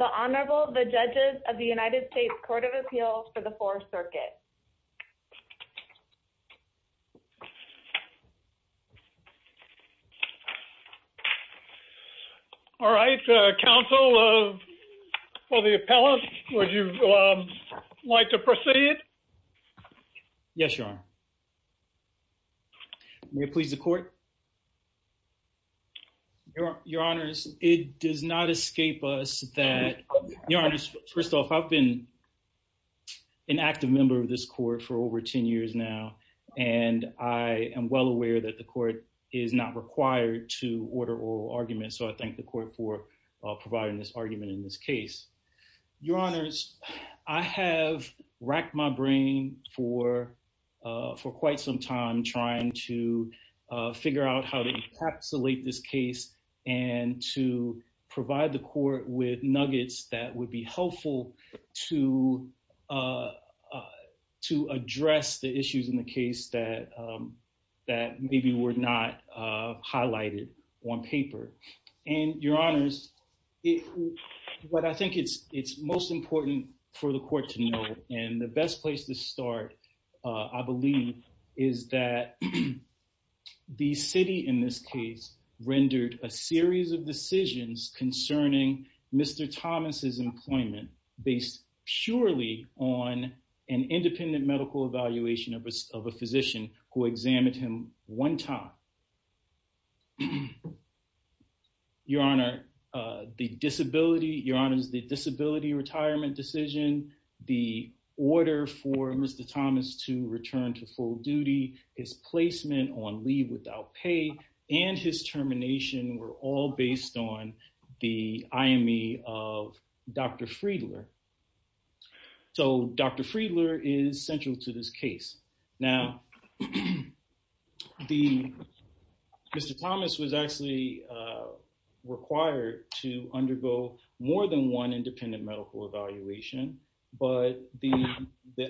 The Honorable, the Judges of the United States Court of Appeals for the 4th Circuit. All right, Counsel for the Appellant, would you like to proceed? Yes, Your Honor. May it please the Court? Your Honors, it does not escape us that, Your Honors, first off, I've been an active member of this Court for over 10 years now, and I am well aware that the Court is not required to order oral arguments, so I thank the Court for providing this argument in this case. Your Honors, I have racked my brain for quite some time trying to figure out how to encapsulate this case and to provide the Court with nuggets that would be helpful to address the issues in the case that maybe were not highlighted on paper. And, Your Honors, what I think is most important for the Court to know, and the best place to start, I believe, is that the City in this case rendered a series of decisions concerning Mr. Thomas' employment based purely on an independent medical evaluation of a physician who examined him one time. Your Honor, the disability, Your Honors, the disability retirement decision, the order for Mr. Thomas to return to full duty, his placement on leave without pay, and his termination were all based on the IME of Dr. Friedler. So Dr. Friedler is central to this case. Now, Mr. Thomas was actually required to undergo more than one independent medical evaluation, but the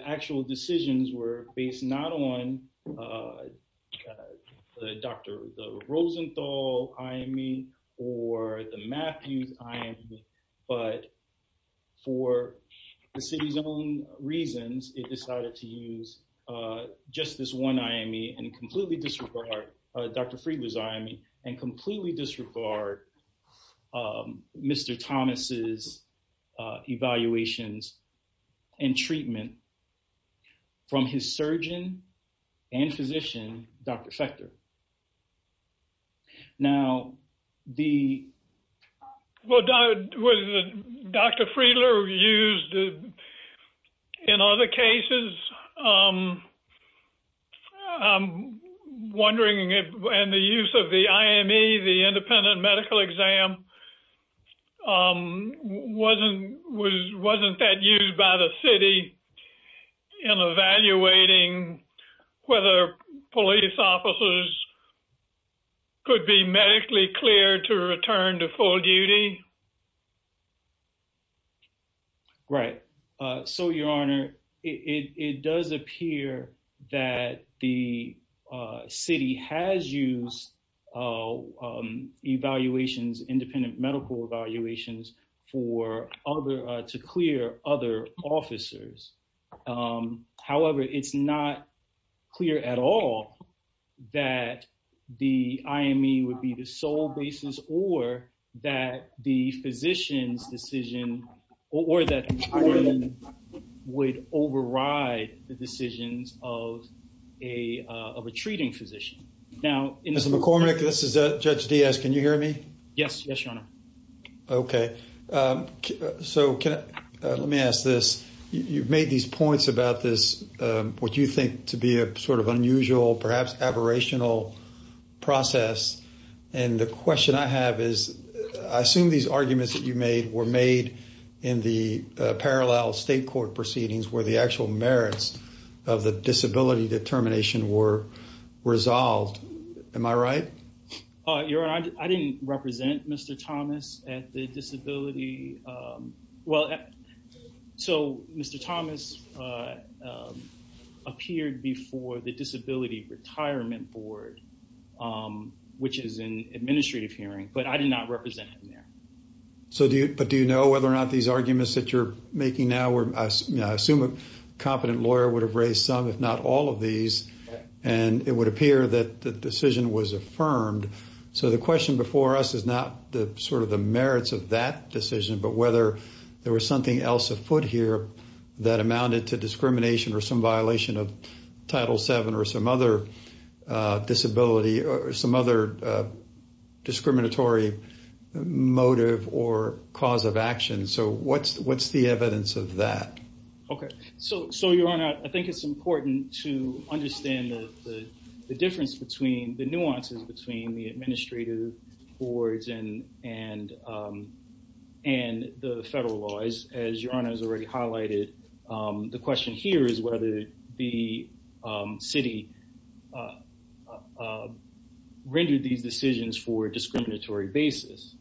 actual decisions were based not on the Dr. Rosenthal IME or the Matthews IME, but for the City's own reasons, it decided to use just this one IME and completely disregard Dr. Friedler's IME and completely disregard Mr. Thomas' evaluations and treatment from his surgeon and physician, Dr. Fechter. Now, the... Was Dr. Friedler used in other cases? I'm wondering if, and the use of the IME, the independent medical exam, wasn't that used by the City in evaluating whether police officers could be medically cleared to return to full duty? Right. So, Your Honor, it does appear that the City has used evaluations, independent medical evaluations for other, to clear other officers. However, it's not clear at all that the IME would be the sole basis or that the physician's decision, or that would override the decisions of a, of a treating physician. Now... Mr. McCormick, this is Judge Diaz. Can you hear me? Yes. Yes, Your Honor. Okay. So, can I, let me ask this. You've made these points about this, what you think to be a sort of unusual, perhaps aberrational process. And the question I have is, I assume these arguments that you made were made in the parallel state court proceedings where the actual merits of the disability determination were resolved. Am I right? Your Honor, I didn't represent Mr. Thomas at the disability, well, so Mr. Thomas appeared before the Disability Retirement Board, which is an administrative hearing, but I did not represent him there. So, do you, but do you know whether or not these arguments that you're making now were, I assume a competent lawyer would have raised some, if not all of these, and it would appear that the decision was affirmed. So, the question before us is not the sort of the merits of that decision, but whether there was something else afoot here that amounted to discrimination or some violation of Title VII or some other disability or some other discriminatory motive or cause of action. So, what's, what's the evidence of that? Okay. So, Your Honor, I think it's important to understand the difference between, the nuances between the administrative boards and the federal laws. As Your Honor has already highlighted, the question here is whether the city rendered these decisions for a discriminatory basis.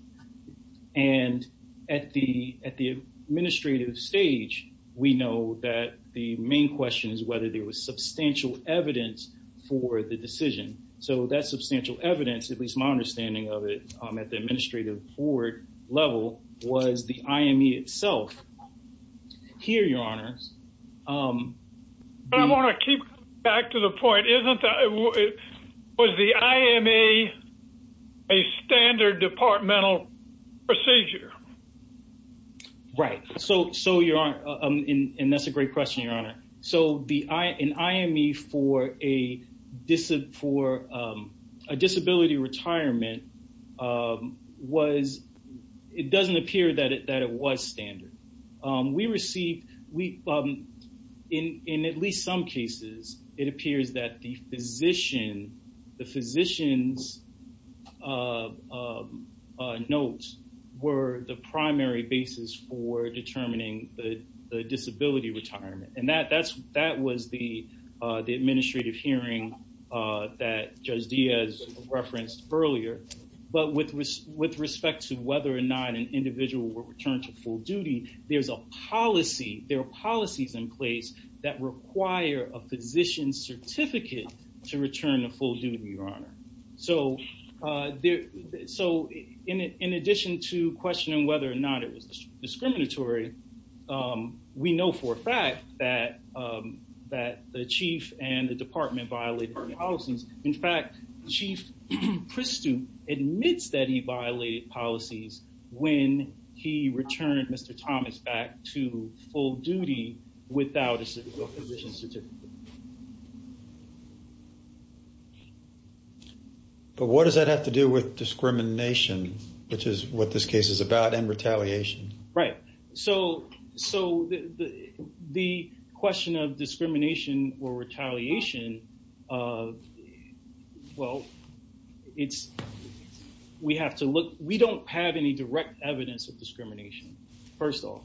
And at the, at the administrative stage, we know that the main question is whether there was substantial evidence for the decision. So, that substantial evidence, at least my understanding of it at the administrative board level, was the IME itself. Here, Your Honor. I want to keep coming back to the point, isn't that, was the IME a standard departmental procedure? Right. So, so Your Honor, and that's a great question, Your Honor. So, the, an IME for a disability, for a disability retirement was, it doesn't appear that it, that it was standard. We received, we, in, in at least some cases, it appears that the physician, the physician's notes were the primary basis for determining the disability retirement. And that, that's, that was the, the administrative hearing that Judge Diaz referenced earlier. But with, with respect to whether or not an individual will return to full duty, there's a policy, there are policies in place that require a physician's certificate to return to full duty, Your Honor. So, there, so in, in addition to questioning whether or not it was discriminatory, we know for a fact that, that the chief and the department violated the policies. In fact, Chief Pristoup admits that he violated policies when he returned Mr. Thomas back to full duty without a physician's certificate. But what does that have to do with discrimination, which is what this case is about, and retaliation? Right. So, so the, the question of discrimination or retaliation, well, it's, we have to look, we don't have any direct evidence of discrimination, first of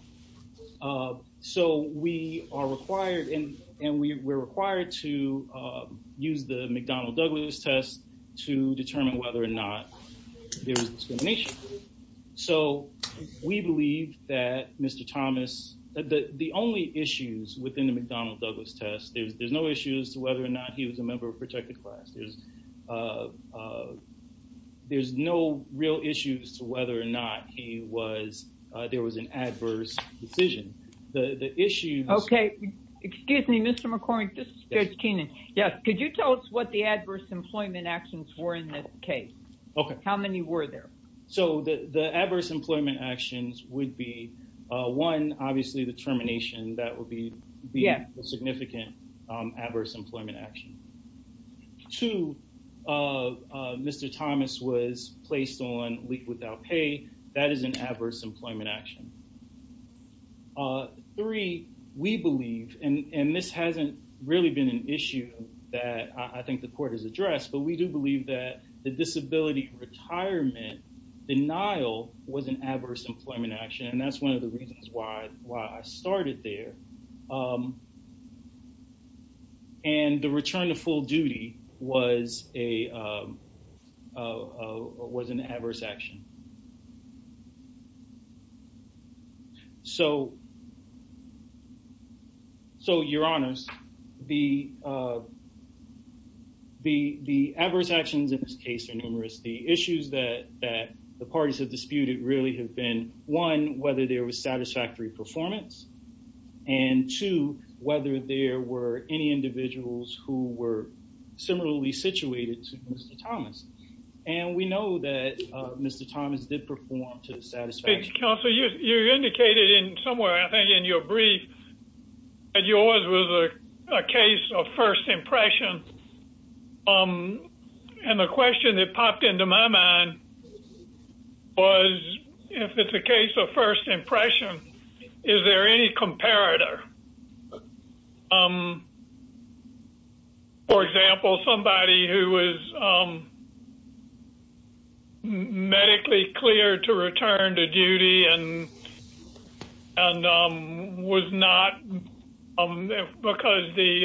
all. So, we are required and, and we, we're required to use the McDonnell-Douglas test to determine whether or not there's discrimination. So, we believe that Mr. Thomas, the, the only issues within the McDonnell-Douglas test, there's, there's no issues to whether or not he was a member of a protected class. There's, there's no real issues to whether or not he was, there was an adverse decision. The, the issue. Okay. Excuse me, Mr. McCormick, this is Judge Keenan. Yes. Could you tell us what the adverse employment actions were in this case? Okay. How many were there? So, the, the adverse employment actions would be, one, obviously the termination, that would be, be a significant adverse employment action. Two, Mr. Thomas was placed on leave without pay. That is an adverse employment action. Three, we believe, and, and this hasn't really been an issue that I think the court has addressed, but we do believe that the disability retirement denial was an adverse employment action. And that's one of the reasons why, why I started there. And the return to full duty was a, was an adverse action. So, so you're honest. The, the, the adverse actions in this case are numerous. The issues that, that the parties have disputed really have been, one, whether there was satisfactory performance. And two, whether there were any individuals who were similarly situated to Mr. Thomas. And we know that Mr. Thomas did perform to the satisfaction. Counselor, you indicated in somewhere, I think, in your brief that yours was a case of first impression. And the question that popped into my mind was, if it's a case of first impression, is there any comparator? For example, somebody who was medically cleared to return to duty and, and was not, because the,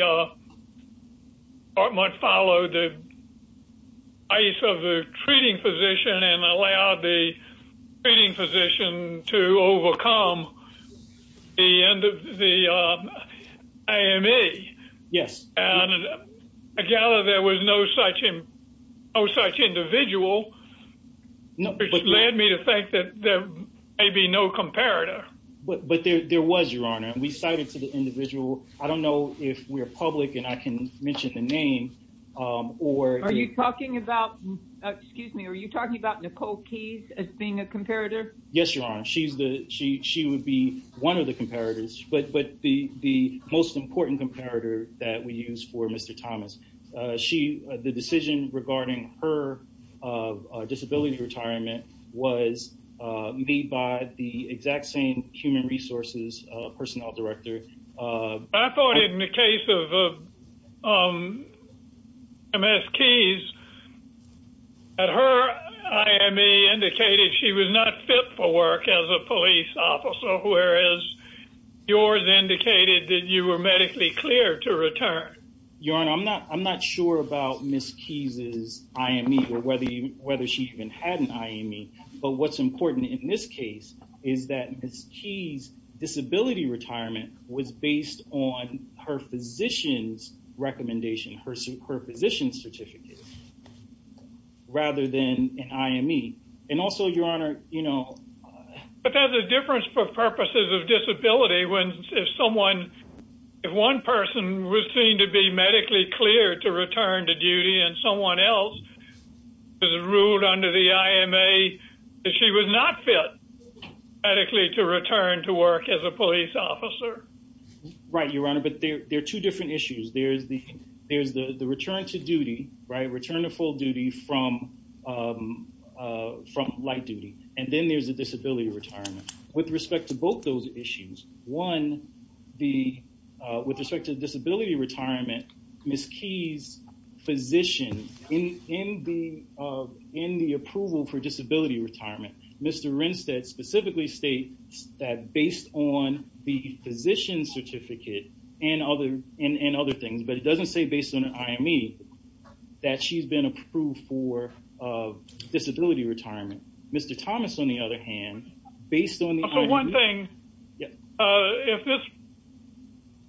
or might follow the ice of the treating physician and allow the treating physician to overcome. The end of the AMA. Yes. And I gather there was no such him. Oh such individual. No, but led me to think that there may be no comparator. But there was your honor and we cited to the individual. I don't know if we're public and I can mention the name, or are you talking about. Excuse me, are you talking about Nicole keys as being a comparator. Yes, your honor, she's the, she, she would be one of the comparators, but, but the, the most important comparator that we use for Mr. Thomas. She, the decision regarding her disability retirement was made by the exact same human resources personnel director. I thought in the case of Ms. Keys at her IME indicated she was not fit for work as a police officer, whereas yours indicated that you were medically clear to return. Your honor, I'm not, I'm not sure about Ms. Keys is IME or whether you, whether she even had an IME, but what's important in this case is that Ms. Keys disability retirement was based on her physicians recommendation her super position certificate. Rather than an IME. And also your honor, you know, but that's a difference for purposes of disability when someone. If one person was seen to be medically clear to return to duty and someone else is ruled under the IMA that she was not fit medically to return to work as a police officer. Right, your honor, but there are two different issues. There's the, there's the, the return to duty right return to full duty from, from light duty. And then there's a disability retirement with respect to both those issues. One, the, with respect to disability retirement, Ms. Keys physician in, in the, in the approval for disability retirement. Mr. Rinstead specifically states that based on the physician certificate and other, and other things, but it doesn't say based on an IME that she's been approved for disability retirement. Mr. Thomas, on the other hand, based on one thing. If this,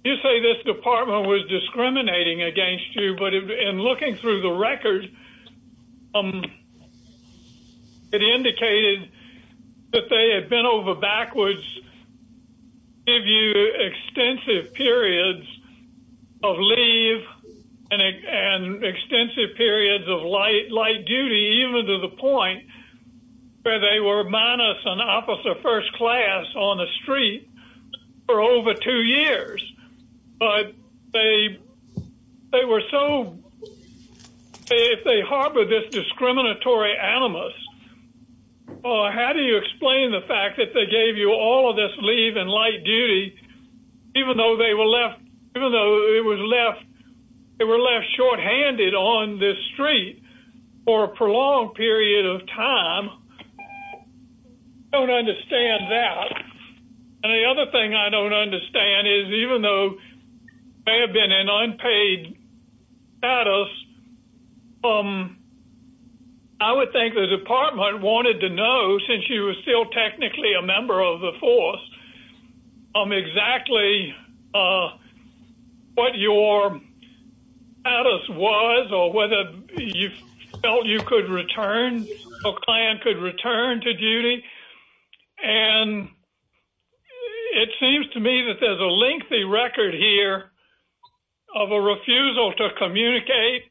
you say this department was discriminating against you, but in looking through the record, it indicated that they had been over backwards. If you extensive periods of leave and extensive periods of light, light duty, even to the point where they were minus an officer first class on the street for over two years. But they, they were so if they harbor this discriminatory animals, how do you explain the fact that they gave you all of this leave and light duty, even though they were left, even though it was left. They were left shorthanded on this street for a prolonged period of time. Don't understand that. And the other thing I don't understand is even though I have been an unpaid. At us. I would think the department wanted to know since she was still technically a member of the force. I'm exactly what you're at us was or whether you felt you could return a client could return to duty. And it seems to me that there's a lengthy record here of a refusal to communicate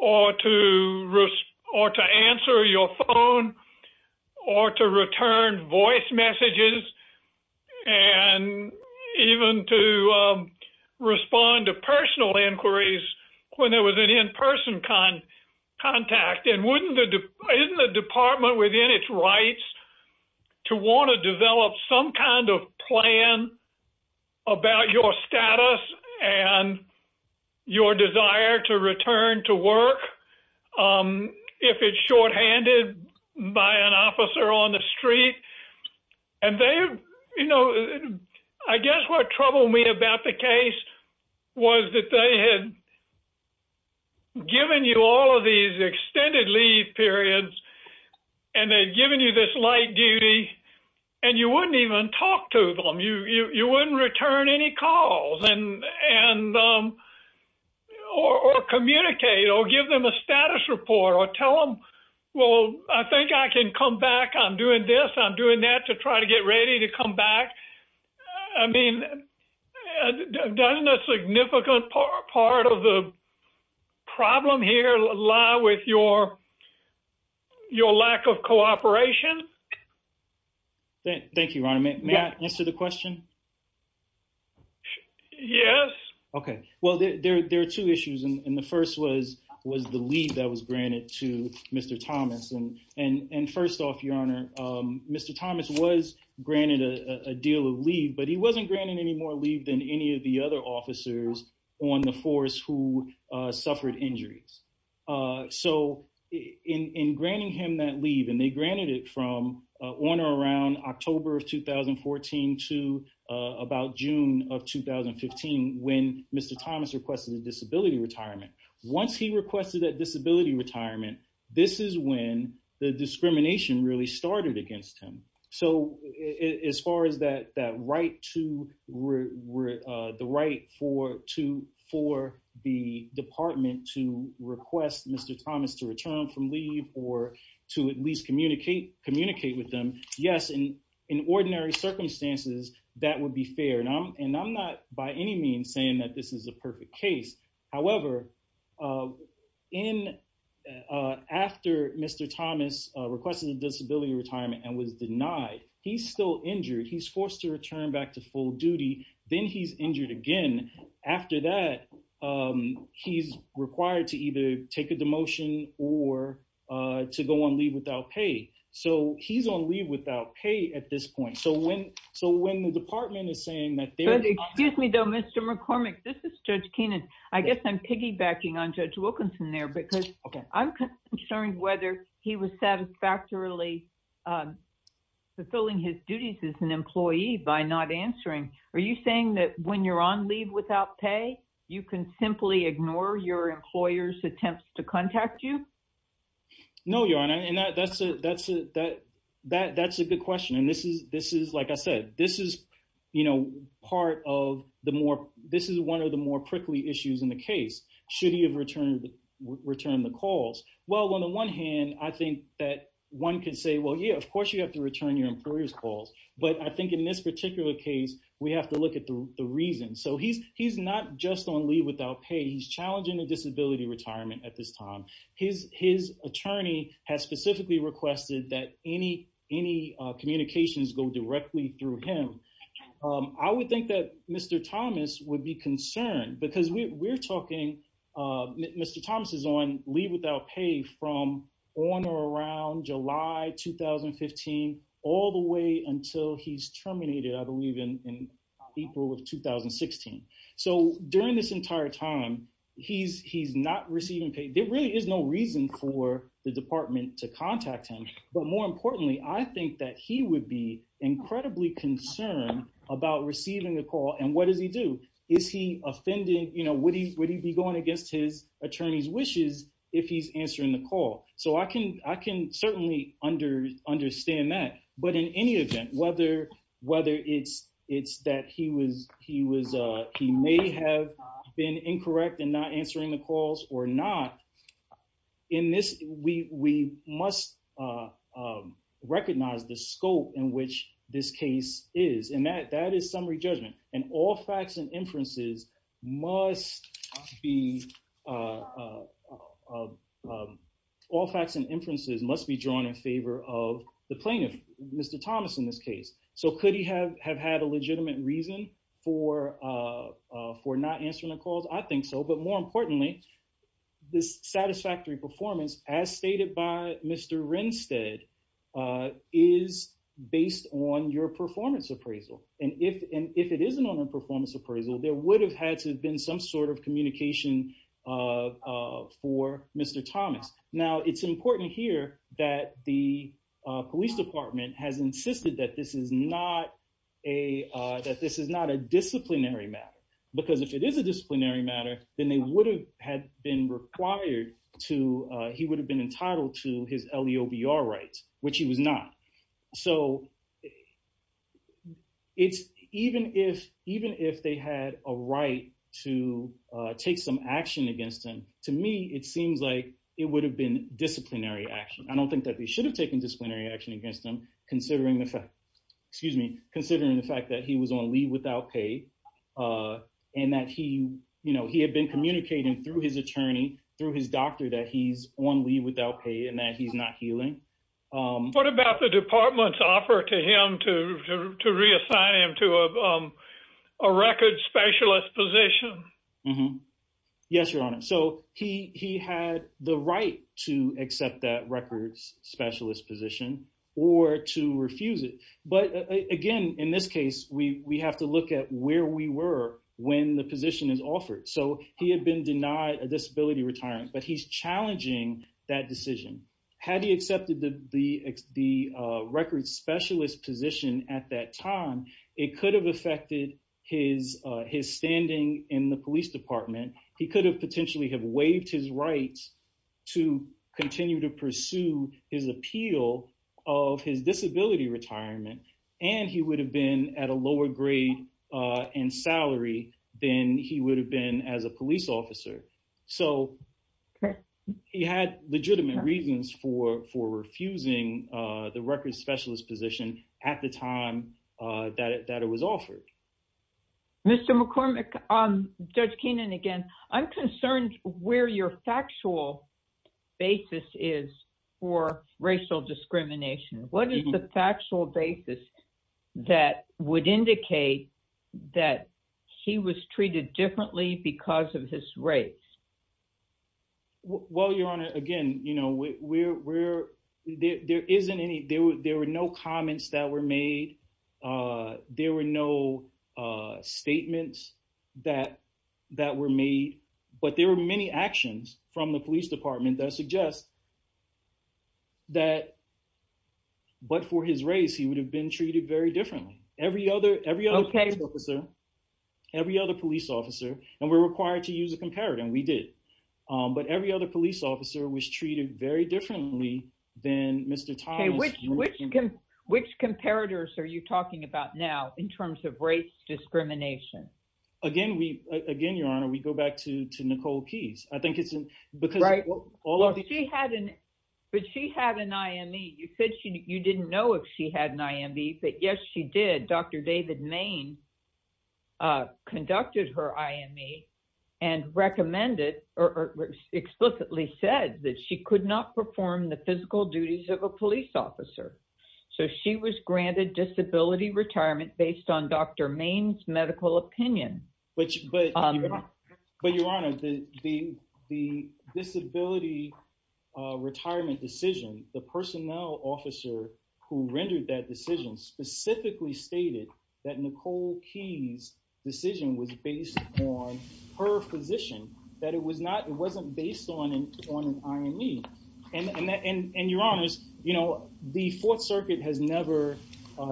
or to risk or to answer your phone or to return voice messages. And even to respond to personal inquiries when there was an in person con contact and wouldn't the department within its rights to want to develop some kind of plan about your status and your desire to return to work. If it's shorthanded by an officer on the street. And they, you know, I guess what troubled me about the case was that they had Given you all of these extended leave periods and they've given you this light duty and you wouldn't even talk to them you you wouldn't return any calls and and Or communicate or give them a status report or tell them. Well, I think I can come back. I'm doing this. I'm doing that to try to get ready to come back. I mean, Done a significant part of the problem here lie with your Your lack of cooperation. Thank you, Ronnie. May I answer the question. Yes. Okay, well, there are two issues. And the first was was the lead that was granted to Mr. Thomas and and and first off, your honor. Mr. Thomas was granted a deal of leave, but he wasn't granted any more leave than any of the other officers on the force who suffered injuries. So in granting him that leave and they granted it from on or around October of 2014 to about June of When Mr. Thomas requested a disability retirement. Once he requested that disability retirement. This is when the discrimination really started against him. So as far as that that right to The right for to for the department to request Mr. Thomas to return from leave or to at least communicate communicate with them. Yes. And in ordinary circumstances, that would be fair. And I'm, and I'm not by any means saying that this is a perfect case, however. In after Mr. Thomas requested a disability retirement and was denied. He's still injured. He's forced to return back to full duty, then he's injured again after that. He's required to either take a demotion or to go on leave without pay. So he's on leave without pay at this point. So when so when the department is saying that Excuse me, though, Mr. McCormick. This is Judge Kenan. I guess I'm piggybacking on Judge Wilkinson there because I'm concerned whether he was satisfactorily Fulfilling his duties as an employee by not answering. Are you saying that when you're on leave without pay, you can simply ignore your employers attempts to contact you No, your honor. And that's a that's a that that's a good question. And this is, this is, like I said, this is, you know, part of the more. This is one of the more prickly issues in the case, should he have returned Return the calls. Well, on the one hand, I think that one can say, well, yeah, of course you have to return your employers calls, but I think in this particular case, we have to look at the reason. So he's he's not just on leave without pay. He's challenging a disability retirement at this time. His, his attorney has specifically requested that any any communications go directly through him. I would think that Mr. Thomas would be concerned because we're talking Mr. Thomas is on leave without pay from on or around July 2015 all the way until he's terminated. I believe in April of 2016 so during this entire time he's he's not receiving paid. There really is no reason for the department to contact him. But more importantly, I think that he would be incredibly concerned about receiving a call and what does he do Is he offended, you know, would he would he be going against his attorney's wishes if he's answering the call. So I can I can certainly under understand that. But in any event, whether whether it's it's that he was he was he may have been incorrect and not answering the calls or not. In this we we must Recognize the scope in which this case is and that that is summary judgment and all facts and inferences must be All facts and inferences must be drawn in favor of the plaintiff. Mr. Thomas, in this case, so could he have have had a legitimate reason for For not answering the calls. I think so. But more importantly, this satisfactory performance as stated by Mr. Rensted Is based on your performance appraisal and if and if it isn't on a performance appraisal, there would have had to have been some sort of communication. For Mr. Thomas. Now it's important here that the police department has insisted that this is not a That this is not a disciplinary matter because if it is a disciplinary matter, then they would have had been required to he would have been entitled to his leo VR rights, which he was not so It's even if even if they had a right to take some action against him. To me, it seems like it would have been disciplinary action. I don't think that we should have taken disciplinary action against them, considering the fact Excuse me, considering the fact that he was on leave without pay. And that he, you know, he had been communicating through his attorney through his doctor that he's on leave without pay and that he's not healing. What about the department's offer to him to reassign him to a record specialist position. Yes, Your Honor. So he had the right to accept that records specialist position or to refuse it. But again, in this case, we have to look at where we were when the position is offered. So he had been denied a disability retirement, but he's challenging that decision. Had he accepted the the the records specialist position at that time, it could have affected his his standing in the police department, he could have potentially have waived his rights. To continue to pursue his appeal of his disability retirement and he would have been at a lower grade and salary, then he would have been as a police officer, so He had legitimate reasons for for refusing the record specialist position at the time that it that it was offered. Mr McCormick, Judge Keenan, again, I'm concerned where your factual basis is for racial discrimination. What is the factual basis that would indicate that he was treated differently because of his race. Well, Your Honor, again, you know, we're there isn't any there were there were no comments that were made. There were no statements that that were made, but there were many actions from the police department that suggest That But for his race, he would have been treated very differently. Every other every other officer. Every other police officer and we're required to use a comparative and we did, but every other police officer was treated very differently than Mr. Which can which comparators. Are you talking about now in terms of race discrimination. Again, we again, Your Honor, we go back to to Nicole keys. I think it's because All of the she had an, but she had an IME you said she you didn't know if she had an IME. But yes, she did. Dr. David Maine. Conducted her IME and recommended or explicitly said that she could not perform the physical duties of a police officer. So she was granted disability retirement based on Dr. Maine's medical opinion, which But Your Honor, the, the, the disability retirement decision, the personnel officer who rendered that decision specifically stated that Nicole keys decision was based on her physician that it was not. It wasn't based on an on an IME. And, and, and, and your honors, you know, the fourth circuit has never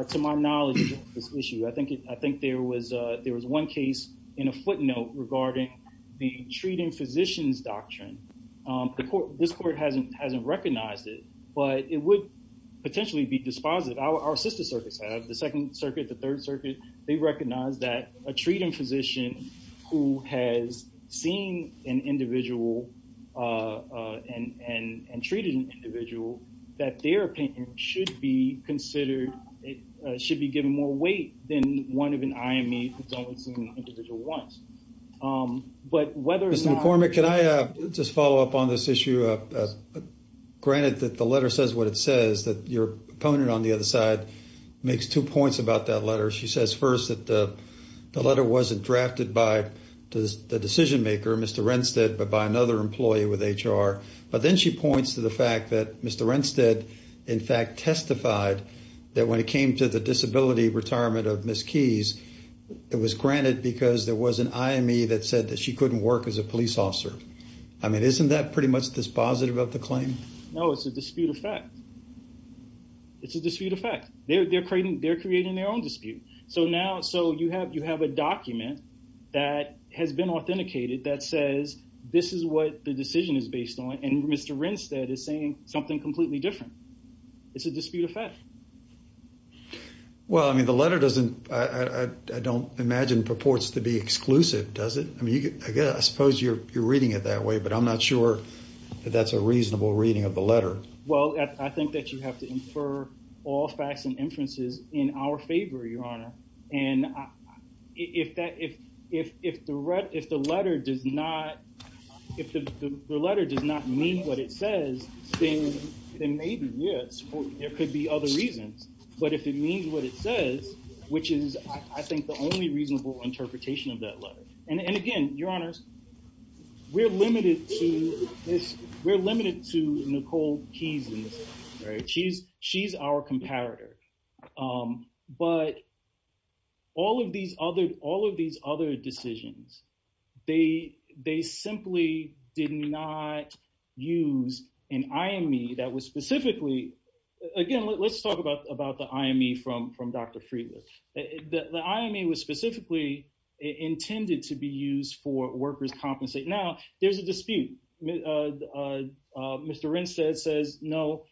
to my knowledge, this issue. I think it, I think there was a, there was one case in a footnote regarding the treating physicians doctrine. This court hasn't, hasn't recognized it, but it would potentially be dispositive. Our sister circuits have the second circuit, the third circuit, they recognize that a treating physician who has seen an individual And, and, and treated an individual that their opinion should be considered. It should be given more weight than one of an IME. Individual wants, but whether it's an informant, can I just follow up on this issue? Granted that the letter says what it says that your opponent on the other side makes two points about that letter. She says, first, that the letter wasn't drafted by the decision maker, Mr. Rennstedt, but by another employee with HR. But then she points to the fact that Mr. Rennstedt, in fact, testified that when it came to the disability retirement of Ms. Keys, it was granted because there was an IME that said that she couldn't work as a police officer. I mean, isn't that pretty much dispositive of the claim? No, it's a dispute effect. It's a dispute effect. They're creating, they're creating their own dispute. So now, so you have, you have a document that has been authenticated that says this is what the decision is based on. And Mr. Rennstedt is saying something completely different. It's a dispute effect. Well, I mean, the letter doesn't, I don't imagine purports to be exclusive, does it? I mean, I guess I suppose you're reading it that way, but I'm not sure that that's a reasonable reading of the letter. Well, I think that you have to infer all facts and inferences in our favor, Your Honor. And if that, if, if, if the, if the letter does not, if the letter does not mean what it says, then maybe yes, there could be other reasons. But if it means what it says, which is, I think the only reasonable interpretation of that letter. And again, Your Honor, we're limited to this. We're limited to Nicole Keyes, right? She's, she's our comparator. But all of these other, all of these other decisions, they, they simply did not use an IME that was specifically, again, let's talk about, about the IME from, from Dr. Friedland. The IME was specifically intended to be used for workers' compensation. Now, there's a dispute. Mr. Renstedt says, no,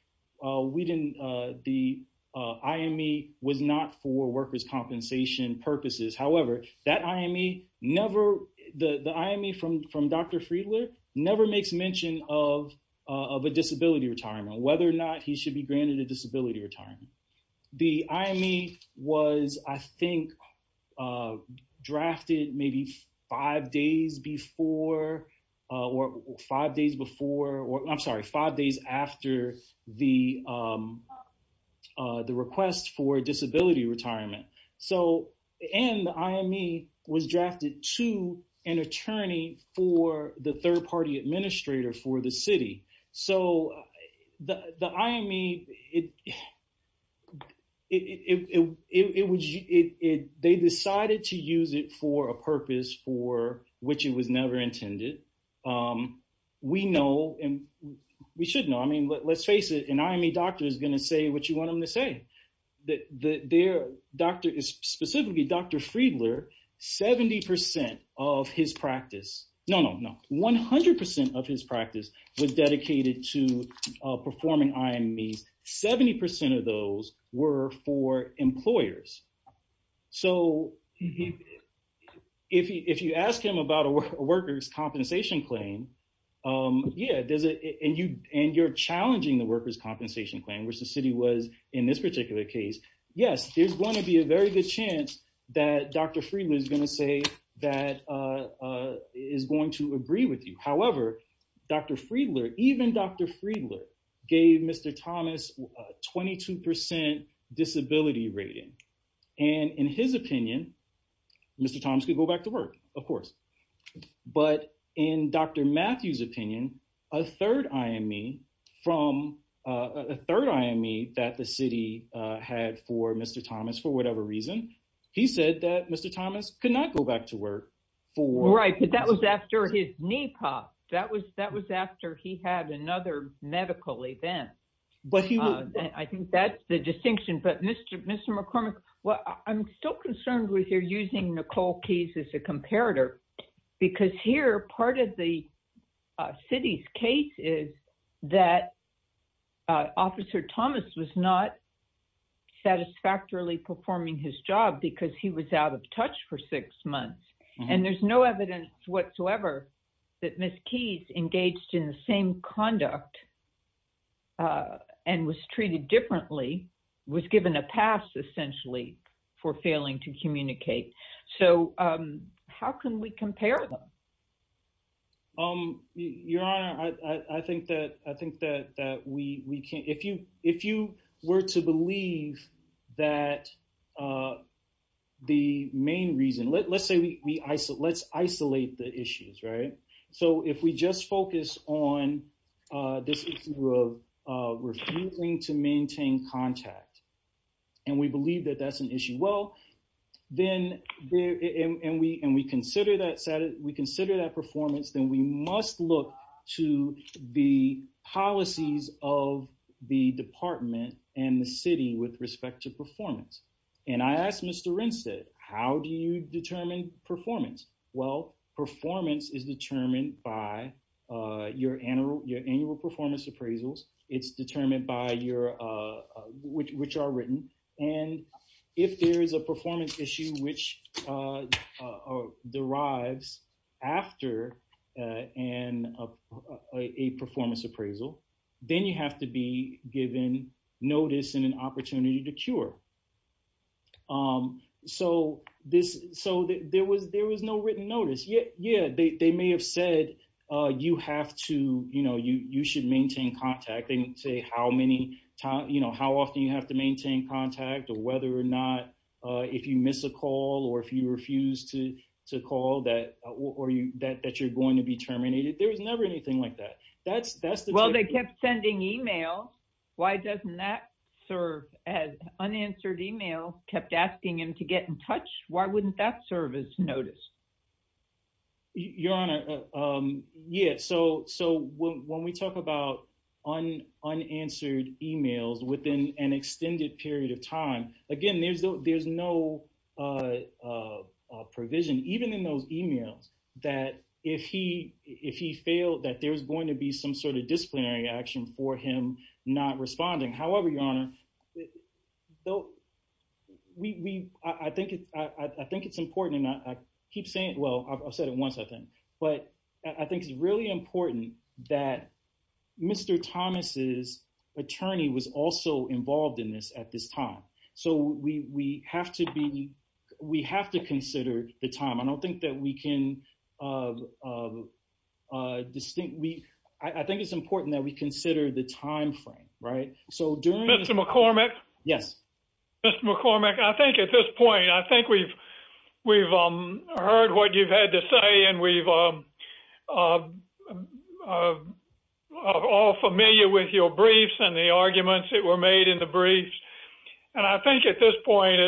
we didn't, the IME was not for workers' compensation purposes. However, that IME never, the, the IME from, from Dr. Friedland never makes mention of, of a disability retirement, whether or not he should be granted a disability retirement. The IME was, I think, drafted maybe five days before or five days before, or I'm sorry, five days after the, the request for disability retirement. So, and the IME was drafted to an attorney for the third party administrator for the city. So the, the IME, it, it, it, it, it, it, it, it, they decided to use it for a purpose for which it was never intended. We know, and we should know, I mean, let's face it, an IME doctor is going to say what you want them to say, that their doctor is specifically Dr. Friedland, 70% of his practice. No, no, no. 100% of his practice was dedicated to performing IMEs. 70% of those were for employers. So if he, if you ask him about a workers' compensation claim, yeah, does it, and you, and you're challenging the workers' compensation claim, which the city was in this particular case, yes, there's going to be a very good chance that Dr. Friedland is going to say that is going to agree with you. And in his opinion, Mr. Thomas could go back to work, of course. But in Dr. Matthews' opinion, a third IME from, a third IME that the city had for Mr. Thomas, for whatever reason, he said that Mr. Thomas could not go back to work for- Well, I'm still concerned with your using Nicole Keyes as a comparator, because here, part of the city's case is that Officer Thomas was not satisfactorily performing his job because he was out of touch for six months. And there's no evidence whatsoever that Ms. Keyes engaged in the same conduct and was treated differently, was given a pass, essentially, for failing to communicate. So how can we compare them? Your Honor, I think that we can, if you were to believe that the main reason, let's say we isolate, let's isolate the issues, right? So if we just focus on this issue of refusing to maintain contact, and we believe that that's an issue. Well, then, and we consider that performance, then we must look to the policies of the department and the city with respect to performance. And I asked Mr. Renstedt, how do you determine performance? Well, performance is determined by your annual performance appraisals. It's determined by your, which are written. And if there is a performance issue, which derives after a performance appraisal, then you have to be given notice and an opportunity to cure. So there was no written notice. Yeah, they may have said, you have to, you should maintain contact. They didn't say how often you have to maintain contact or whether or not, if you miss a call, or if you refuse to call that you're going to be terminated. There was never anything like that. Well, they kept sending email. Why doesn't that serve as unanswered email, kept asking him to get in touch? Why wouldn't that serve as notice? Your Honor, yeah. So when we talk about unanswered emails within an extended period of time, again, there's no provision, even in those emails, that if he failed, that there's going to be some sort of disciplinary action for him not responding. However, Your Honor, I think it's important, and I keep saying it, well, I've said it once, I think, but I think it's really important that Mr. Thomas's attorney was also involved in this at this time. So we have to be, we have to consider the time. I don't think that we can distinctly, I think it's important that we consider the timeframe, right? So during- Mr. McCormick? Yes. Mr. McCormick, I think at this point, I think we've heard what you've had to say, and we're all familiar with your briefs and the arguments that were made in the briefs. And I think at this point,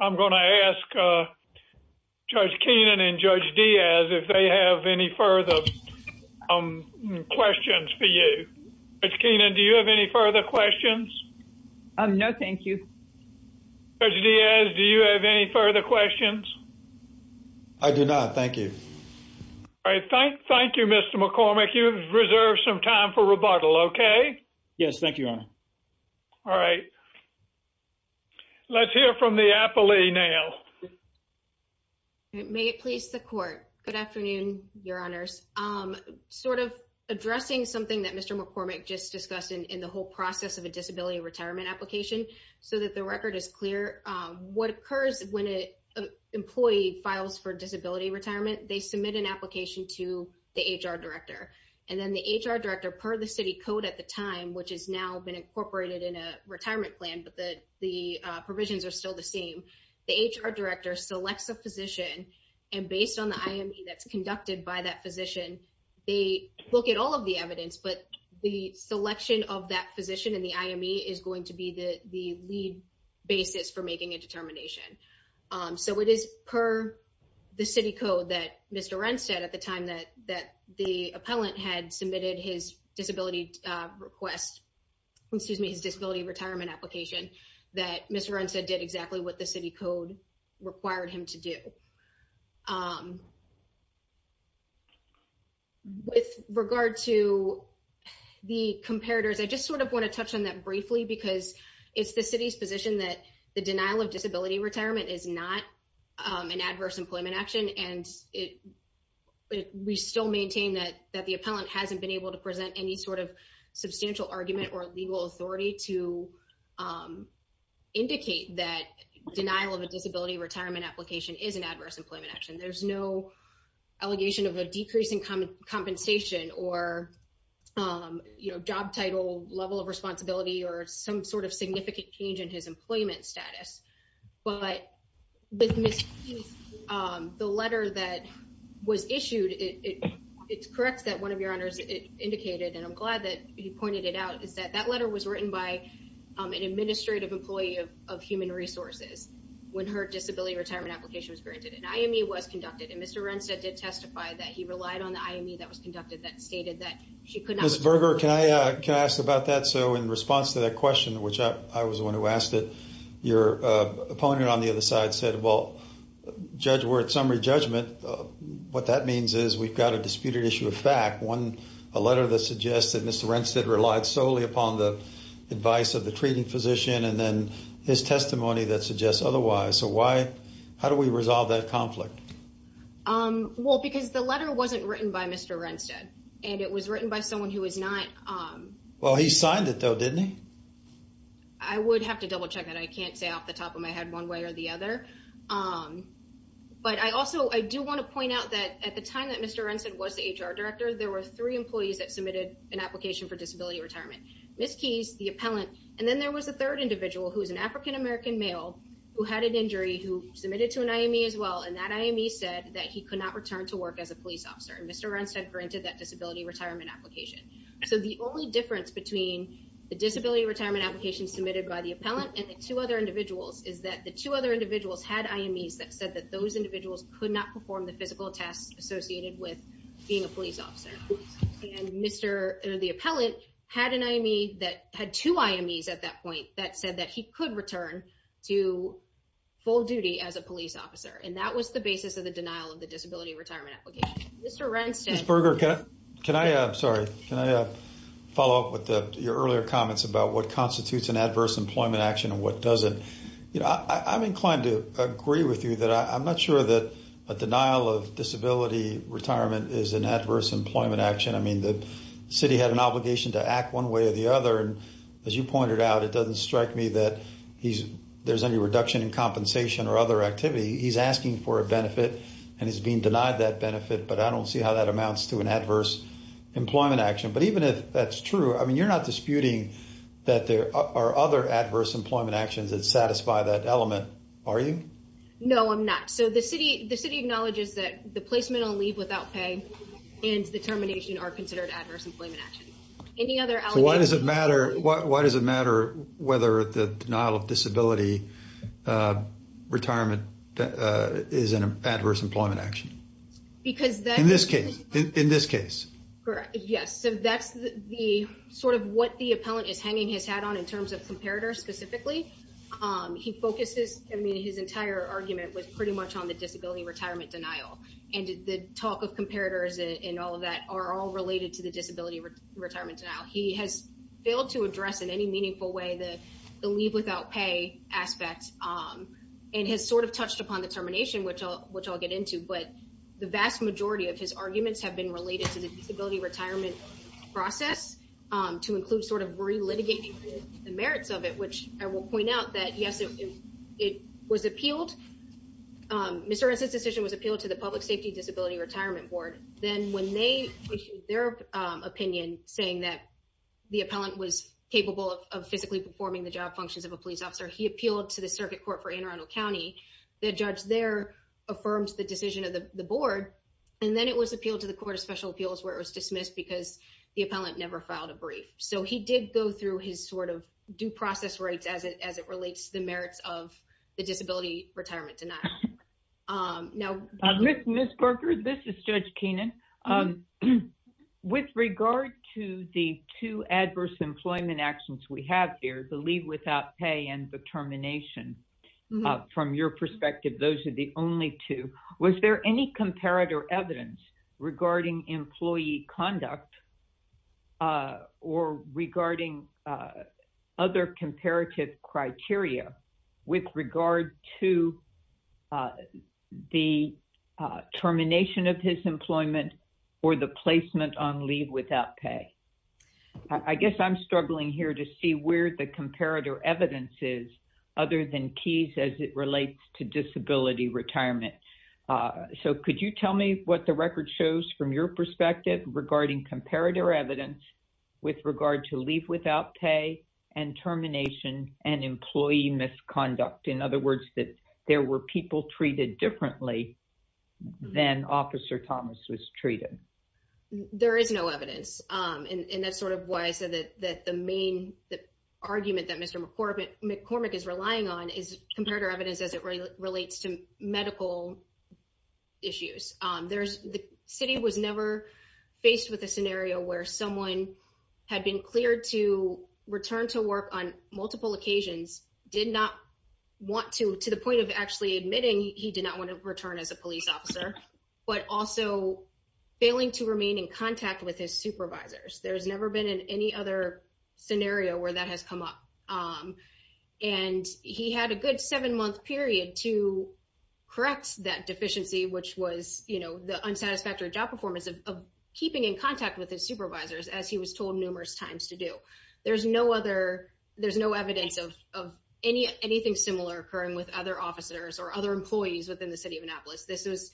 I'm going to ask Judge Keenan and Judge Diaz if they have any further questions for you. Judge Keenan, do you have any further questions? No, thank you. Judge Diaz, do you have any further questions? I do not. Thank you. All right. Thank you, Mr. McCormick. You've reserved some time for rebuttal, okay? Yes. Thank you, Your Honor. All right. Let's hear from the appellee now. May it please the Court. Good afternoon, Your Honors. Sort of addressing something that Mr. McCormick just discussed in the whole process of a disability retirement application, so that the record is clear. What occurs when an employee files for disability retirement, they submit an application to the HR director. And then the HR director, per the city code at the time, which has now been incorporated in a retirement plan, but the provisions are still the same, the HR director selects a physician, and based on the IME that's conducted by that physician, they look at all of the evidence. But the selection of that physician in the IME is going to be the lead basis for making a determination. So it is per the city code that Mr. Rennstedt, at the time that the appellant had submitted his disability request, excuse me, his disability retirement application, that Mr. Rennstedt did exactly what the city code required him to do. With regard to the comparators, I just sort of want to touch on that briefly because it's the city's position that the denial of disability retirement is not an adverse employment action. And we still maintain that the appellant hasn't been able to present any sort of substantial argument or legal authority to indicate that denial of a disability retirement application is an adverse employment action. There's no allegation of a decrease in compensation or, you know, job title, level of responsibility, or some sort of significant change in his employment status. But the letter that was issued, it's correct that one of your honors indicated, and I'm glad that you pointed it out, is that that letter was written by an administrative employee of human resources when her disability retirement application was granted. An IME was conducted, and Mr. Rennstedt did testify that he relied on the IME that was conducted that stated that she could not- Ms. Berger, can I ask about that? So in response to that question, which I was the one who asked it, your opponent on the other side said, well, judge, we're at summary judgment. What that means is we've got a disputed issue of fact, a letter that suggests that Mr. Rennstedt relied solely upon the advice of the treating physician and then his testimony that suggests otherwise. So why, how do we resolve that conflict? Well, because the letter wasn't written by Mr. Rennstedt, and it was written by someone who was not- Well, he signed it though, didn't he? I would have to double check that. I can't say off the top of my head one way or the other. But I also, I do want to point out that at the time that Mr. Rennstedt was the HR director, there were three employees that submitted an application for disability retirement. Ms. Keyes, the appellant, and then there was a third individual who was an African-American male who had an injury who submitted to an IME as well. And that IME said that he could not return to work as a police officer. And Mr. Rennstedt granted that disability retirement application. So the only difference between the disability retirement application submitted by the appellant and the two other individuals is that the two other individuals had IMEs that said that those individuals could not perform the physical tasks associated with being a police officer. And Mr., the appellant, had an IME that had two IMEs at that point that said that he could return to full duty as a police officer. And that was the basis of the denial of the disability retirement application. Mr. Rennstedt- Ms. Berger, can I, I'm sorry, can I follow up with your earlier comments about what constitutes an adverse employment action and what doesn't? You know, I'm inclined to agree with you that I'm not sure that a denial of disability retirement is an adverse employment action. I mean, the city had an obligation to act one way or the other. And as you pointed out, it doesn't strike me that there's any reduction in compensation or other activity. He's asking for a benefit, and he's being denied that benefit. But I don't see how that amounts to an adverse employment action. But even if that's true, I mean, you're not disputing that there are other adverse employment actions that satisfy that element, are you? No, I'm not. So the city acknowledges that the placement on leave without pay and the termination are considered adverse employment actions. Any other allegations- So why does it matter, why does it matter whether the denial of disability retirement is an adverse employment action? Because that- In this case. In this case. Correct, yes. So that's the sort of what the appellant is hanging his hat on in terms of comparators specifically. He focuses, I mean, his entire argument was pretty much on the disability retirement denial. And the talk of comparators and all of that are all related to the disability retirement denial. He has failed to address in any meaningful way the leave without pay aspect and has sort of touched upon the termination, which I'll get into. But the vast majority of his arguments have been related to the disability retirement process to include sort of re-litigating the merits of it, which I will point out that, yes, it was appealed. Mr. Ernst's decision was appealed to the Public Safety Disability Retirement Board. Then when they issued their opinion saying that the appellant was capable of physically performing the job functions of a police officer, he appealed to the circuit court for Anne Arundel County. The judge there affirms the decision of the board. And then it was appealed to the Court of Special Appeals where it was dismissed because the appellant never filed a brief. So he did go through his sort of due process rights as it relates to the merits of the disability retirement denial. Ms. Berger, this is Judge Keenan. With regard to the two adverse employment actions we have here, the leave without pay and the termination, from your perspective, those are the only two. Was there any comparative evidence regarding employee conduct or regarding other comparative criteria with regard to the termination of his employment or the placement on leave without pay? I guess I'm struggling here to see where the comparative evidence is other than keys as it relates to disability retirement. So could you tell me what the record shows from your perspective regarding comparative evidence with regard to leave without pay and termination and employee misconduct? In other words, that there were people treated differently than Officer Thomas was treated. There is no evidence. And that's sort of why I said that the main argument that Mr. McCormick is relying on is comparative evidence as it relates to medical issues. The city was never faced with a scenario where someone had been cleared to return to work on multiple occasions, did not want to, to the point of actually admitting he did not want to return as a police officer, but also failing to remain in contact with his supervisors. There's never been in any other scenario where that has come up. And he had a good seven month period to correct that deficiency, which was, you know, the unsatisfactory job performance of keeping in contact with his supervisors as he was told numerous times to do. There's no other, there's no evidence of any, anything similar occurring with other officers or other employees within the city of Annapolis. This was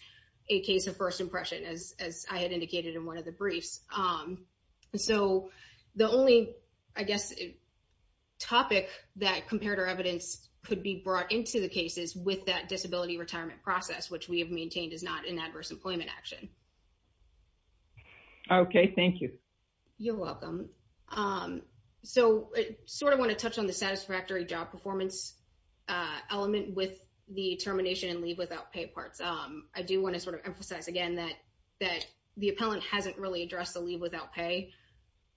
a case of first impression as I had indicated in one of the briefs. So the only, I guess, topic that comparative evidence could be brought into the cases with that disability retirement process, which we have maintained is not an adverse employment action. Okay, thank you. You're welcome. So I sort of want to touch on the satisfactory job performance element with the termination and leave without pay parts. I do want to sort of emphasize again that the appellant hasn't really addressed the leave without pay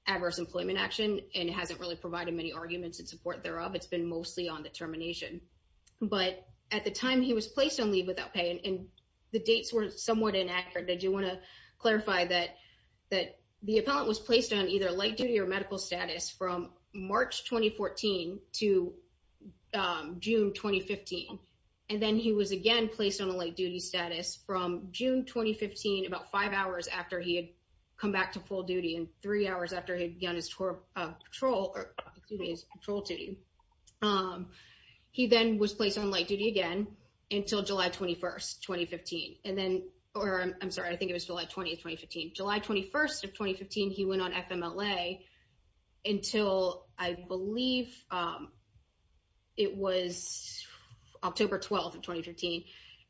adverse employment action and hasn't really provided many arguments in support thereof. It's been mostly on the termination. But at the time he was placed on leave without pay and the dates were somewhat inaccurate. I do want to clarify that the appellant was placed on either light duty or medical status from March 2014 to June 2015. And then he was again placed on a light duty status from June 2015, about five hours after he had come back to full duty and three hours after he began his patrol duty. He then was placed on light duty again until July 21st, 2015. And then, or I'm sorry, I think it was July 20th, 2015. July 21st of 2015, he went on FMLA until I believe it was October 12th of 2015.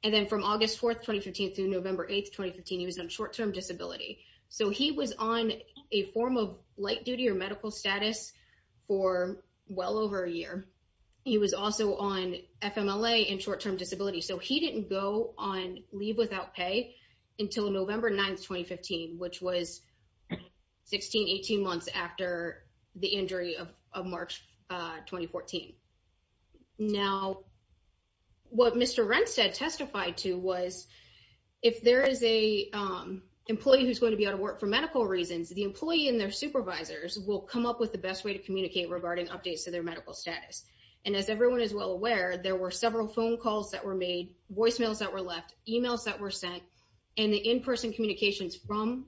And then from August 4th, 2015 through November 8th, 2015, he was on short-term disability. So he was on a form of light duty or medical status for well over a year. He was also on FMLA and short-term disability. So he didn't go on leave without pay until November 9th, 2015, which was 16, 18 months after the injury of March 2014. Now, what Mr. Renstad testified to was if there is a employee who's going to be out of work for medical reasons, the employee and their supervisors will come up with the best way to communicate regarding updates to their medical status. And as everyone is well aware, there were several phone calls that were made, voicemails that were left, emails that were sent, and the in-person communications from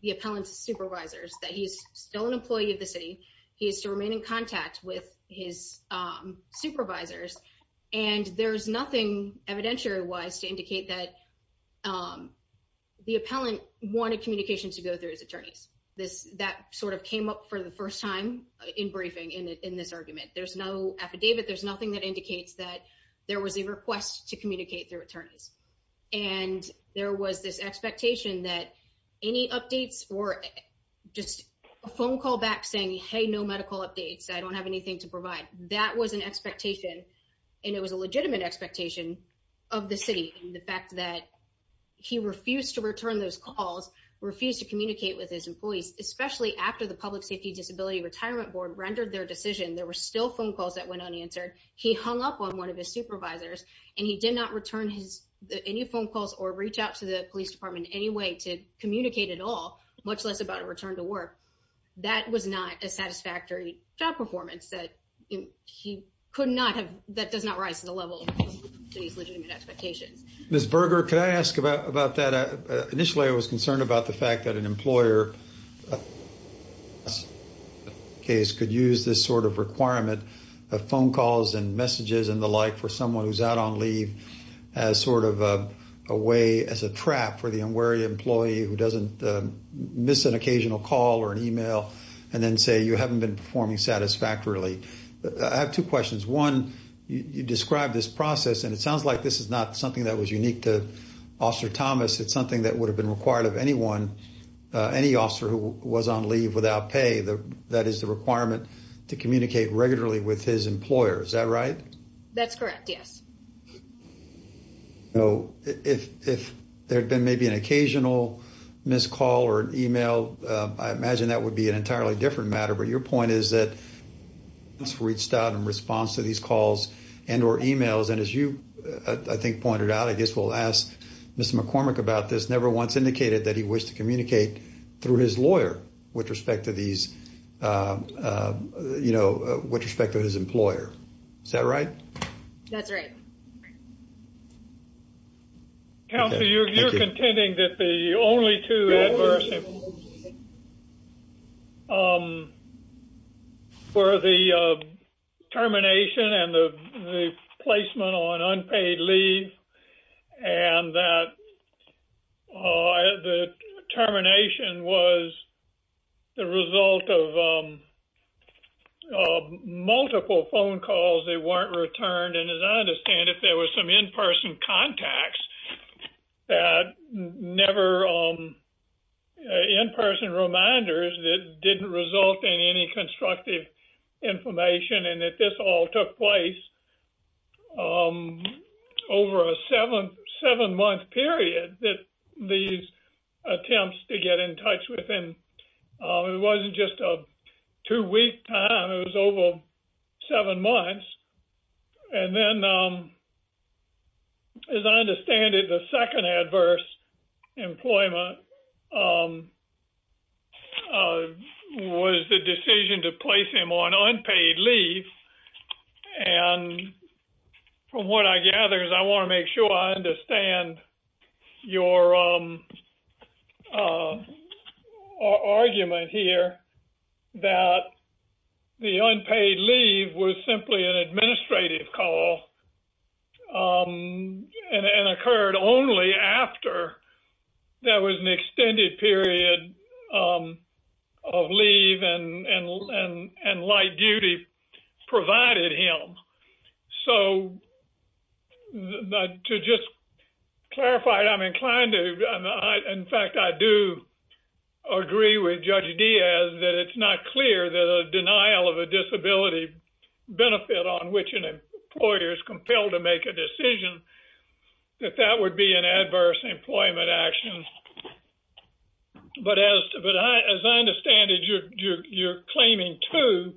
the appellant's supervisors that he's still an employee of the city. He is to remain in contact with his supervisors. And there's nothing evidentiary-wise to indicate that the appellant wanted communication to go through his attorneys. That sort of came up for the first time in briefing in this argument. There's no affidavit. There's nothing that indicates that there was a request to communicate through attorneys. And there was this expectation that any updates or just a phone call back saying, hey, no medical updates, I don't have anything to provide. That was an expectation, and it was a legitimate expectation of the city, and the fact that he refused to return those calls, refused to communicate with his employees, especially after the Public Safety Disability Retirement Board rendered their decision. There were still phone calls that went unanswered. He hung up on one of his supervisors, and he did not return any phone calls or reach out to the police department in any way to communicate at all, much less about a return to work. That was not a satisfactory job performance that he could not have. That does not rise to the level of his legitimate expectations. Ms. Berger, could I ask about that? Initially, I was concerned about the fact that an employer in this case could use this sort of requirement of phone calls and messages and the like for someone who's out on leave as sort of a way, as a trap for the unwary employee who doesn't miss an occasional call or an email and then say you haven't been performing satisfactorily. I have two questions. One, you described this process, and it sounds like this is not something that was unique to Officer Thomas. It's something that would have been required of anyone, any officer who was on leave without pay. That is the requirement to communicate regularly with his employer. Is that right? That's correct, yes. So if there had been maybe an occasional missed call or an email, I imagine that would be an entirely different matter. Your point is that this reached out in response to these calls and or emails. And as you, I think, pointed out, I guess we'll ask Mr. McCormick about this, never once indicated that he wished to communicate through his lawyer with respect to these, you know, with respect to his employer. Is that right? That's right. Counselor, you're contending that the only two adverse for the termination and the placement on unpaid leave and that the termination was the result of multiple phone calls that weren't returned. And as I understand it, there was some in-person contacts that never, in-person reminders that didn't result in any constructive information and that this all took place over a seven-month period that these attempts to get in touch with him. It wasn't just a two-week time. It was over seven months. And then, as I understand it, the second adverse employment was the decision to place him on unpaid leave. And from what I gather is I want to make sure I understand your argument here that the unpaid leave was simply an administrative call and occurred only after there was an extended period of leave and light duty provided him. So to just clarify, I'm inclined to, in fact, I do agree with Judge Diaz that it's not clear that a denial of a disability benefit on which an employer is compelled to make a decision, that that would be an adverse employment action. But as I understand it, you're claiming two,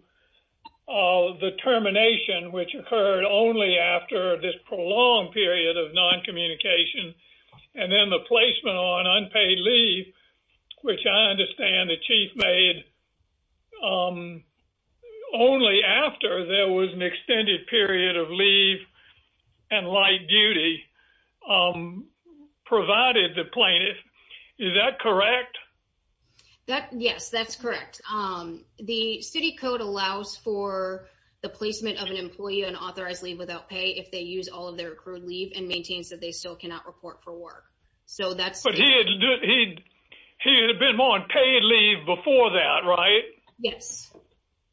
the termination, which occurred only after this prolonged period of noncommunication, and then the placement on unpaid leave, which I understand the chief made only after there was an extended period of leave and light duty provided the plaintiff. Is that correct? Yes, that's correct. The city code allows for the placement of an employee on authorized leave without pay if they use all of their accrued leave and maintains that they still cannot report for work. But he had been on paid leave before that, right? Yes,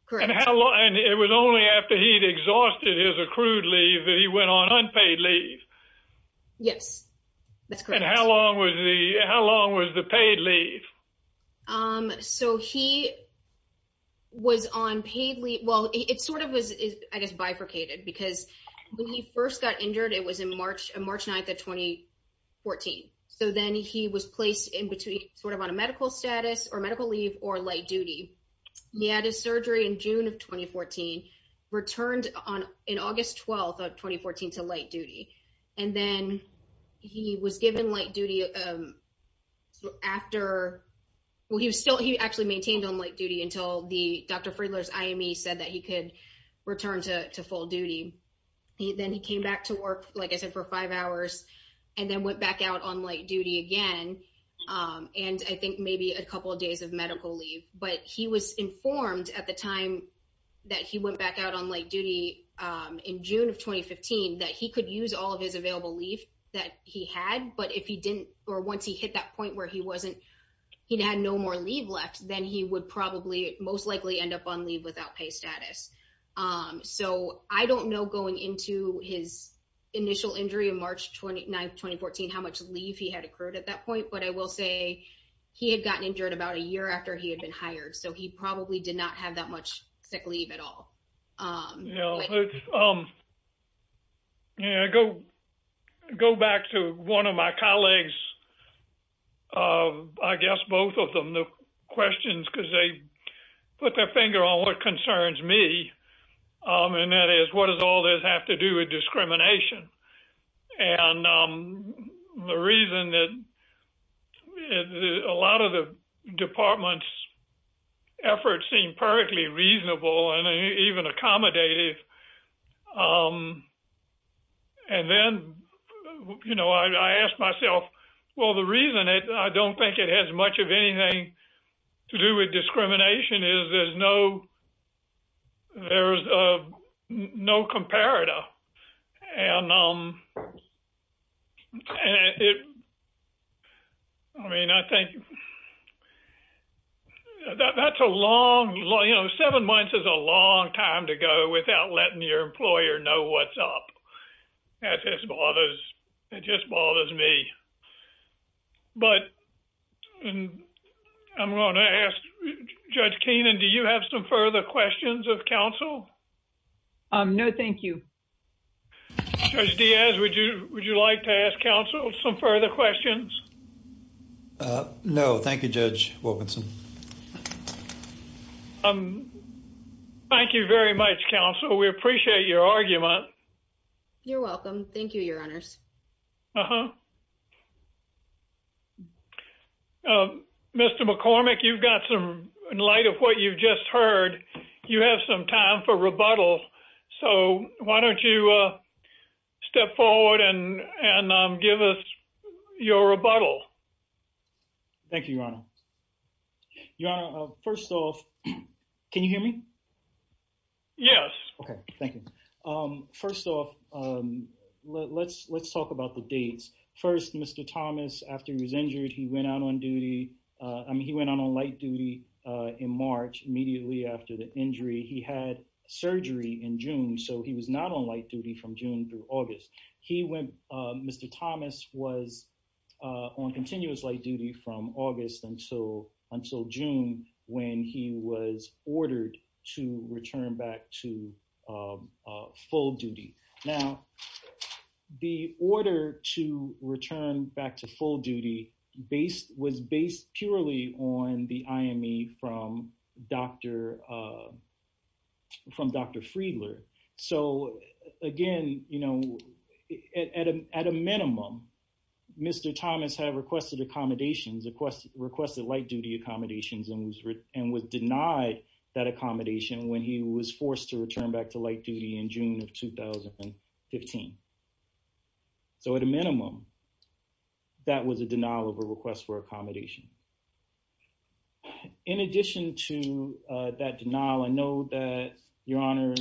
correct. And it was only after he'd exhausted his accrued leave that he went on unpaid leave. Yes, that's correct. And how long was the paid leave? So he was on paid leave, well, it sort of was, I guess, bifurcated because when he first got injured, it was in March 9th of 2014. So then he was placed in between sort of on a medical status or medical leave or light duty. He had his surgery in June of 2014, returned in August 12th of 2014 to light duty. And then he was given light duty after, well, he actually maintained on light duty until Dr. Friedler's IME said that he could return to full duty. Then he came back to work, like I said, for five hours and then went back out on light duty again and I think maybe a couple of days of medical leave. But he was informed at the time that he went back out on light duty in June of 2015 that he could use all of his available leave that he had. But if he didn't or once he hit that point where he wasn't, he'd had no more leave left, then he would probably most likely end up on leave without pay status. So I don't know going into his initial injury in March 29th, 2014, how much leave he had accrued at that point. But I will say he had gotten injured about a year after he had been hired. So he probably did not have that much sick leave at all. Yeah, I go back to one of my colleagues, I guess both of them, the questions because they put their finger on what concerns me. And that is what does all this have to do with discrimination? And the reason that a lot of the department's efforts seem perfectly reasonable and even accommodative. And then, you know, I asked myself, well, the reason I don't think it has much of anything to do with discrimination is there's no comparator. And, I mean, I think that's a long, you know, seven months is a long time to go without letting your employer know what's up. It just bothers me. But I'm going to ask Judge Keenan, do you have some further questions of counsel? No, thank you. Judge Diaz, would you like to ask counsel some further questions? No, thank you, Judge Wilkinson. Thank you very much, counsel. We appreciate your argument. You're welcome. Thank you, Your Honors. Uh-huh. Mr. McCormick, you've got some light of what you've just heard. You have some time for rebuttal. So why don't you step forward and give us your rebuttal? Thank you, Your Honor. Your Honor, first off, can you hear me? Yes. Okay, thank you. First off, let's talk about the dates. First, Mr. Thomas, after he was injured, he went out on duty. I mean, he went out on light duty in March immediately after the injury. He had surgery in June, so he was not on light duty from June through August. Mr. Thomas was on continuous light duty from August until June when he was ordered to return back to full duty. Now, the order to return back to full duty was based purely on the IME from Dr. Friedler. So, again, you know, at a minimum, Mr. Thomas had requested accommodations, requested light duty accommodations, and was denied that accommodation when he was forced to return back to light duty in June of 2015. So at a minimum, that was a denial of a request for accommodation. In addition to that denial, I know that, Your Honor,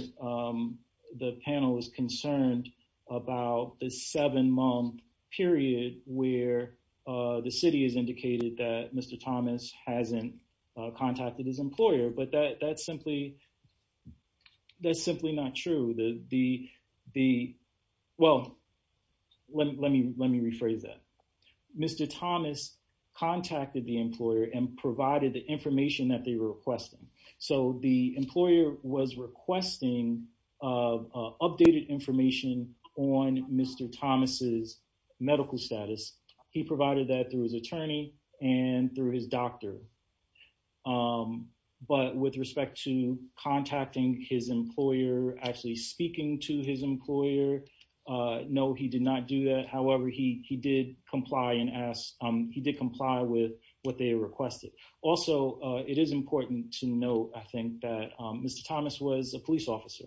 the panel is concerned about the seven-month period where the city has indicated that Mr. Thomas hasn't contacted his employer, but that's simply not true. Well, let me rephrase that. Mr. Thomas contacted the employer and provided the information that they were requesting. So the employer was requesting updated information on Mr. Thomas's medical status. He provided that through his attorney and through his doctor. But with respect to contacting his employer, actually speaking to his employer, no, he did not do that. However, he did comply with what they requested. Also, it is important to note, I think, that Mr. Thomas was a police officer,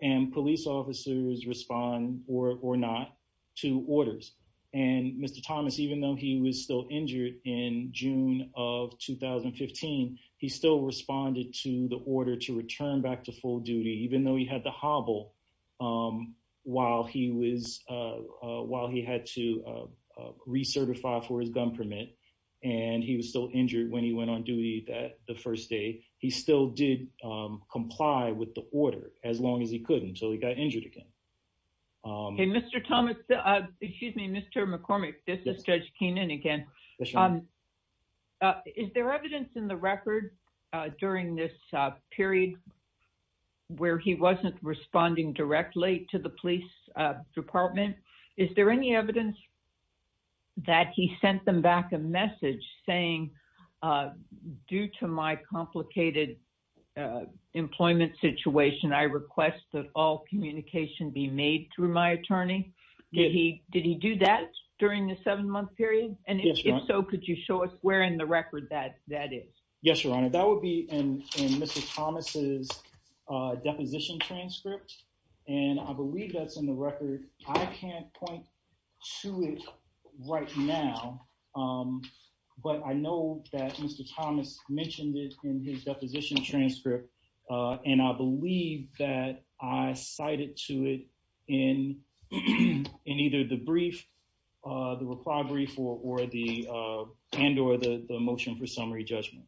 and police officers respond or not to orders. And Mr. Thomas, even though he was still injured in June of 2015, he still responded to the order to return back to full duty, even though he had to hobble while he had to recertify for his gun permit, and he was still injured when he went on duty the first day. He still did comply with the order as long as he could until he got injured again. Okay, Mr. Thomas, excuse me, Mr. McCormick, this is Judge Keenan again. Is there evidence in the record during this period where he wasn't responding directly to the police department? Is there any evidence that he sent them back a message saying, due to my complicated employment situation, I request that all communication be made through my attorney? Did he do that during the seven-month period? And if so, could you show us where in the record that is? Yes, Your Honor, that would be in Mr. Thomas's deposition transcript. And I believe that's in the record. I can't point to it right now, but I know that Mr. Thomas mentioned it in his deposition transcript, and I believe that I cited to it in either the brief, the reply brief, and or the motion for summary judgment.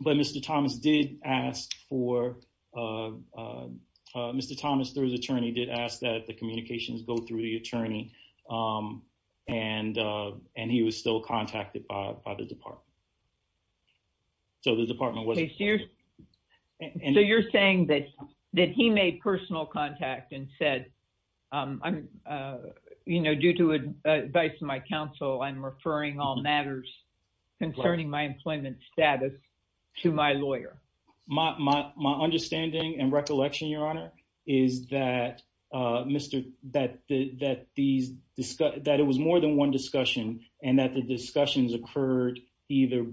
But Mr. Thomas did ask for, Mr. Thomas, through his attorney, did ask that the communications go through the attorney. And he was still contacted by the department. So the department was. So you're saying that he made personal contact and said, due to advice from my counsel, I'm referring all matters concerning my employment status to my lawyer. My my my understanding and recollection, Your Honor, is that Mr. That that these that it was more than one discussion and that the discussions occurred either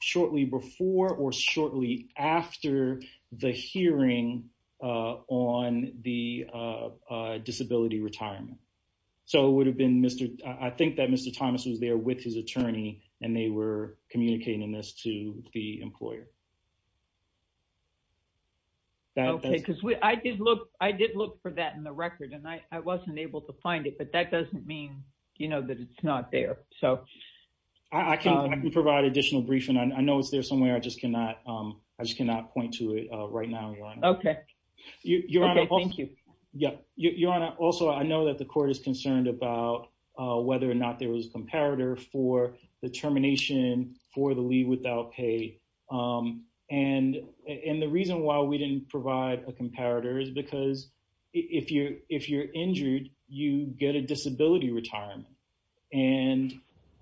shortly before or shortly after the hearing on the disability retirement. So it would have been Mr. I think that Mr. Thomas was there with his attorney and they were communicating this to the employer. Because I did look, I did look for that in the record and I wasn't able to find it. But that doesn't mean, you know, that it's not there. So I can provide additional briefing. I know it's there somewhere. I just cannot. I just cannot point to it right now. OK. Thank you. Yep. Your Honor. Also, I know that the court is concerned about whether or not there was a comparator for the termination for the leave without pay. And and the reason why we didn't provide a comparator is because if you're if you're injured, you get a disability retirement. And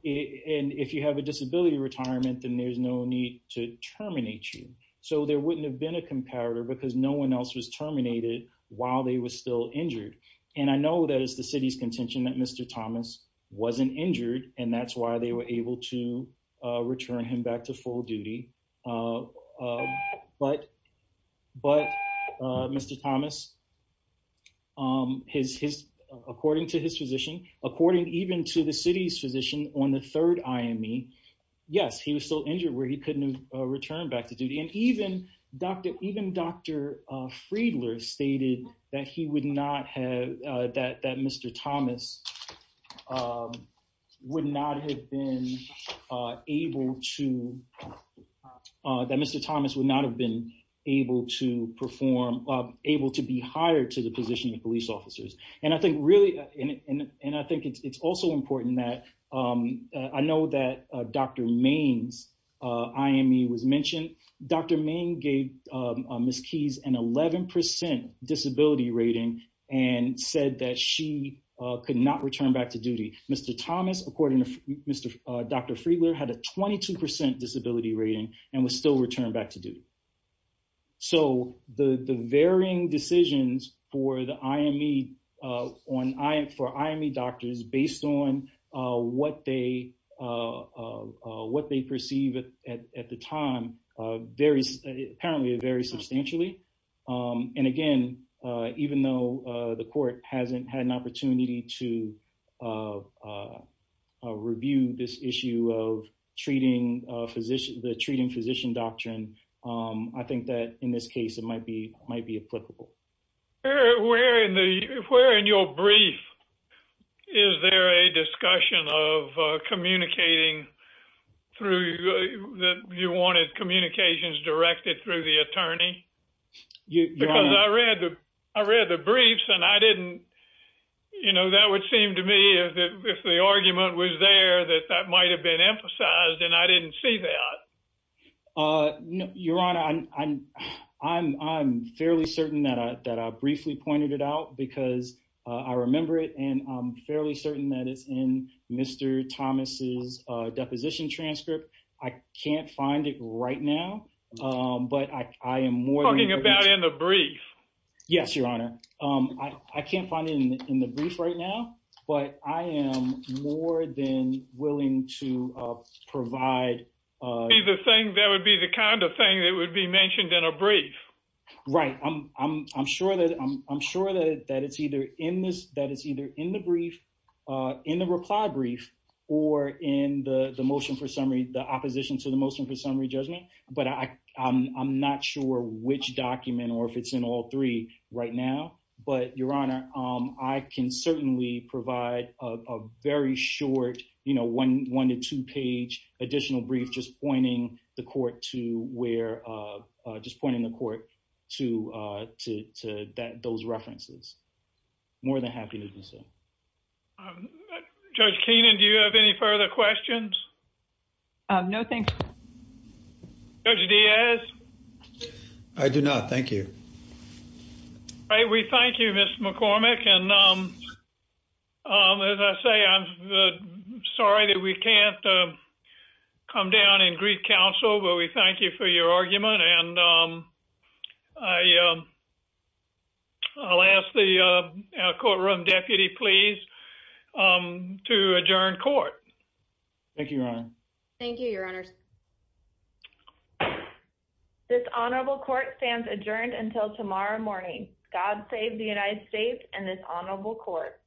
if you have a disability retirement, then there's no need to terminate you. So there wouldn't have been a comparator because no one else was terminated while they were still injured. And I know that is the city's contention that Mr. Thomas wasn't injured. And that's why they were able to return him back to full duty. But but Mr. Thomas. His his. According to his physician, according even to the city's physician on the third IME. Yes, he was still injured where he couldn't return back to duty. And even Dr. Even Dr. Friedler stated that he would not have that that Mr. Thomas would not have been able to that Mr. Thomas would not have been able to perform, able to be hired to the position of police officers. And I think really. And I think it's also important that I know that Dr. Maine's IME was mentioned. Dr. Maine gave Ms. Keys an 11 percent disability rating and said that she could not return back to duty. Mr. Thomas, according to Mr. Dr. Friedler, had a 22 percent disability rating and was still returned back to duty. So the varying decisions for the IME on I for IME doctors based on what they what they perceive at the time, there is apparently a very substantially. And again, even though the court hasn't had an opportunity to review this issue of treating physician, the treating physician doctrine, I think that in this case it might be might be applicable. We're in the we're in your brief. Is there a discussion of communicating through that? You wanted communications directed through the attorney. You know, I read the I read the briefs and I didn't. You know, that would seem to me that if the argument was there, that that might have been emphasized and I didn't see that. Your Honor, I'm I'm I'm fairly certain that that I briefly pointed it out because I remember it. And I'm fairly certain that it's in Mr. Thomas's deposition transcript. I can't find it right now, but I am more talking about in the brief. Yes, Your Honor. I can't find it in the brief right now, but I am more than willing to provide the thing. That would be the kind of thing that would be mentioned in a brief. Right. I'm I'm I'm sure that I'm sure that that it's either in this that it's either in the brief in the reply brief or in the motion for summary. The opposition to the motion for summary judgment. But I'm not sure which document or if it's in all three right now. But, Your Honor, I can certainly provide a very short, you know, one one to two page additional brief, just pointing the court to where just pointing the court to to that those references more than happy to do so. Judge Keenan, do you have any further questions? No, thanks. Judge Diaz. I do not. Thank you. All right. We thank you, Mr. McCormick. And as I say, I'm sorry that we can't come down and greet counsel. But we thank you for your argument. And I. I'll ask the courtroom deputy, please, to adjourn court. Thank you. Thank you, Your Honors. This honorable court stands adjourned until tomorrow morning. God save the United States and this honorable court.